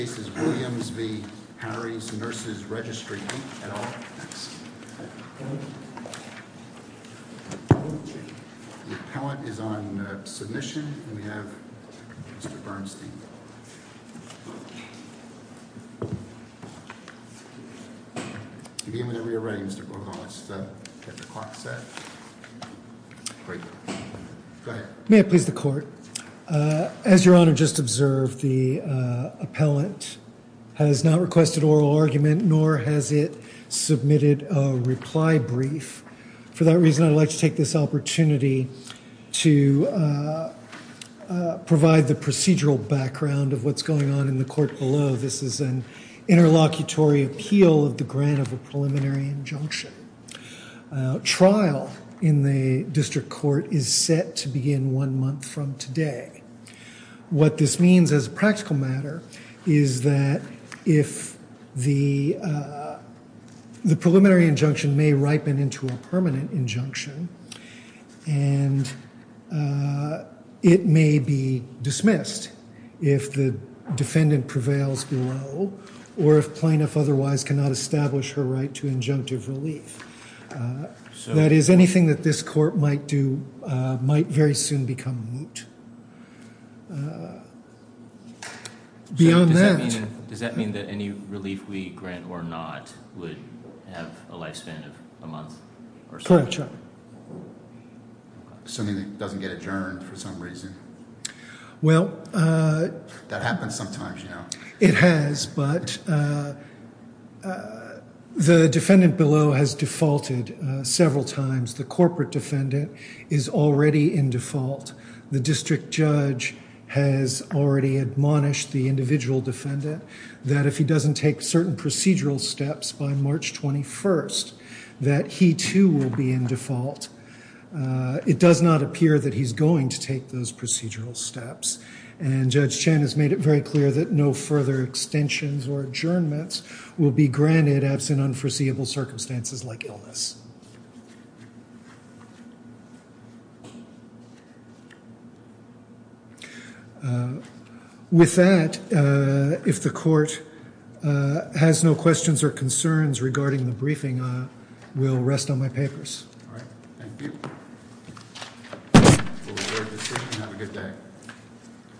The appellant is on submission, and we have Mr. Bernstein. If you're ready, Mr. Grohol, let's get the clock set. Great. Go ahead. May I please the court? As Your Honor just observed, the appellant has not requested oral argument, nor has it submitted a reply brief. For that reason, I'd like to take this opportunity to provide the procedural background of what's going on in the court below. This is an interlocutory appeal of the grant of a preliminary injunction. Trial in the district court is set to begin one month from today. What this means as a practical matter is that the preliminary injunction may ripen into a permanent injunction, and it may be dismissed if the defendant prevails below or if plaintiff otherwise cannot establish her right to injunctive relief. That is, anything that this court might do might very soon become moot. Does that mean that any relief we grant or not would have a lifespan of a month or so? Assuming it doesn't get adjourned for some reason. That happens sometimes, you know. It has, but the defendant below has defaulted several times. The corporate defendant is already in default. The district judge has already admonished the individual defendant that if he doesn't take certain procedural steps by March 21st, that he too will be in default. It does not appear that he's going to take those procedural steps, and Judge Chen has made it very clear that no further extensions or adjournments will be granted absent unforeseeable circumstances like illness. With that, if the court has no questions or concerns regarding the briefing, I will rest on my papers. All right. Thank you. We'll adjourn this meeting. Have a good day.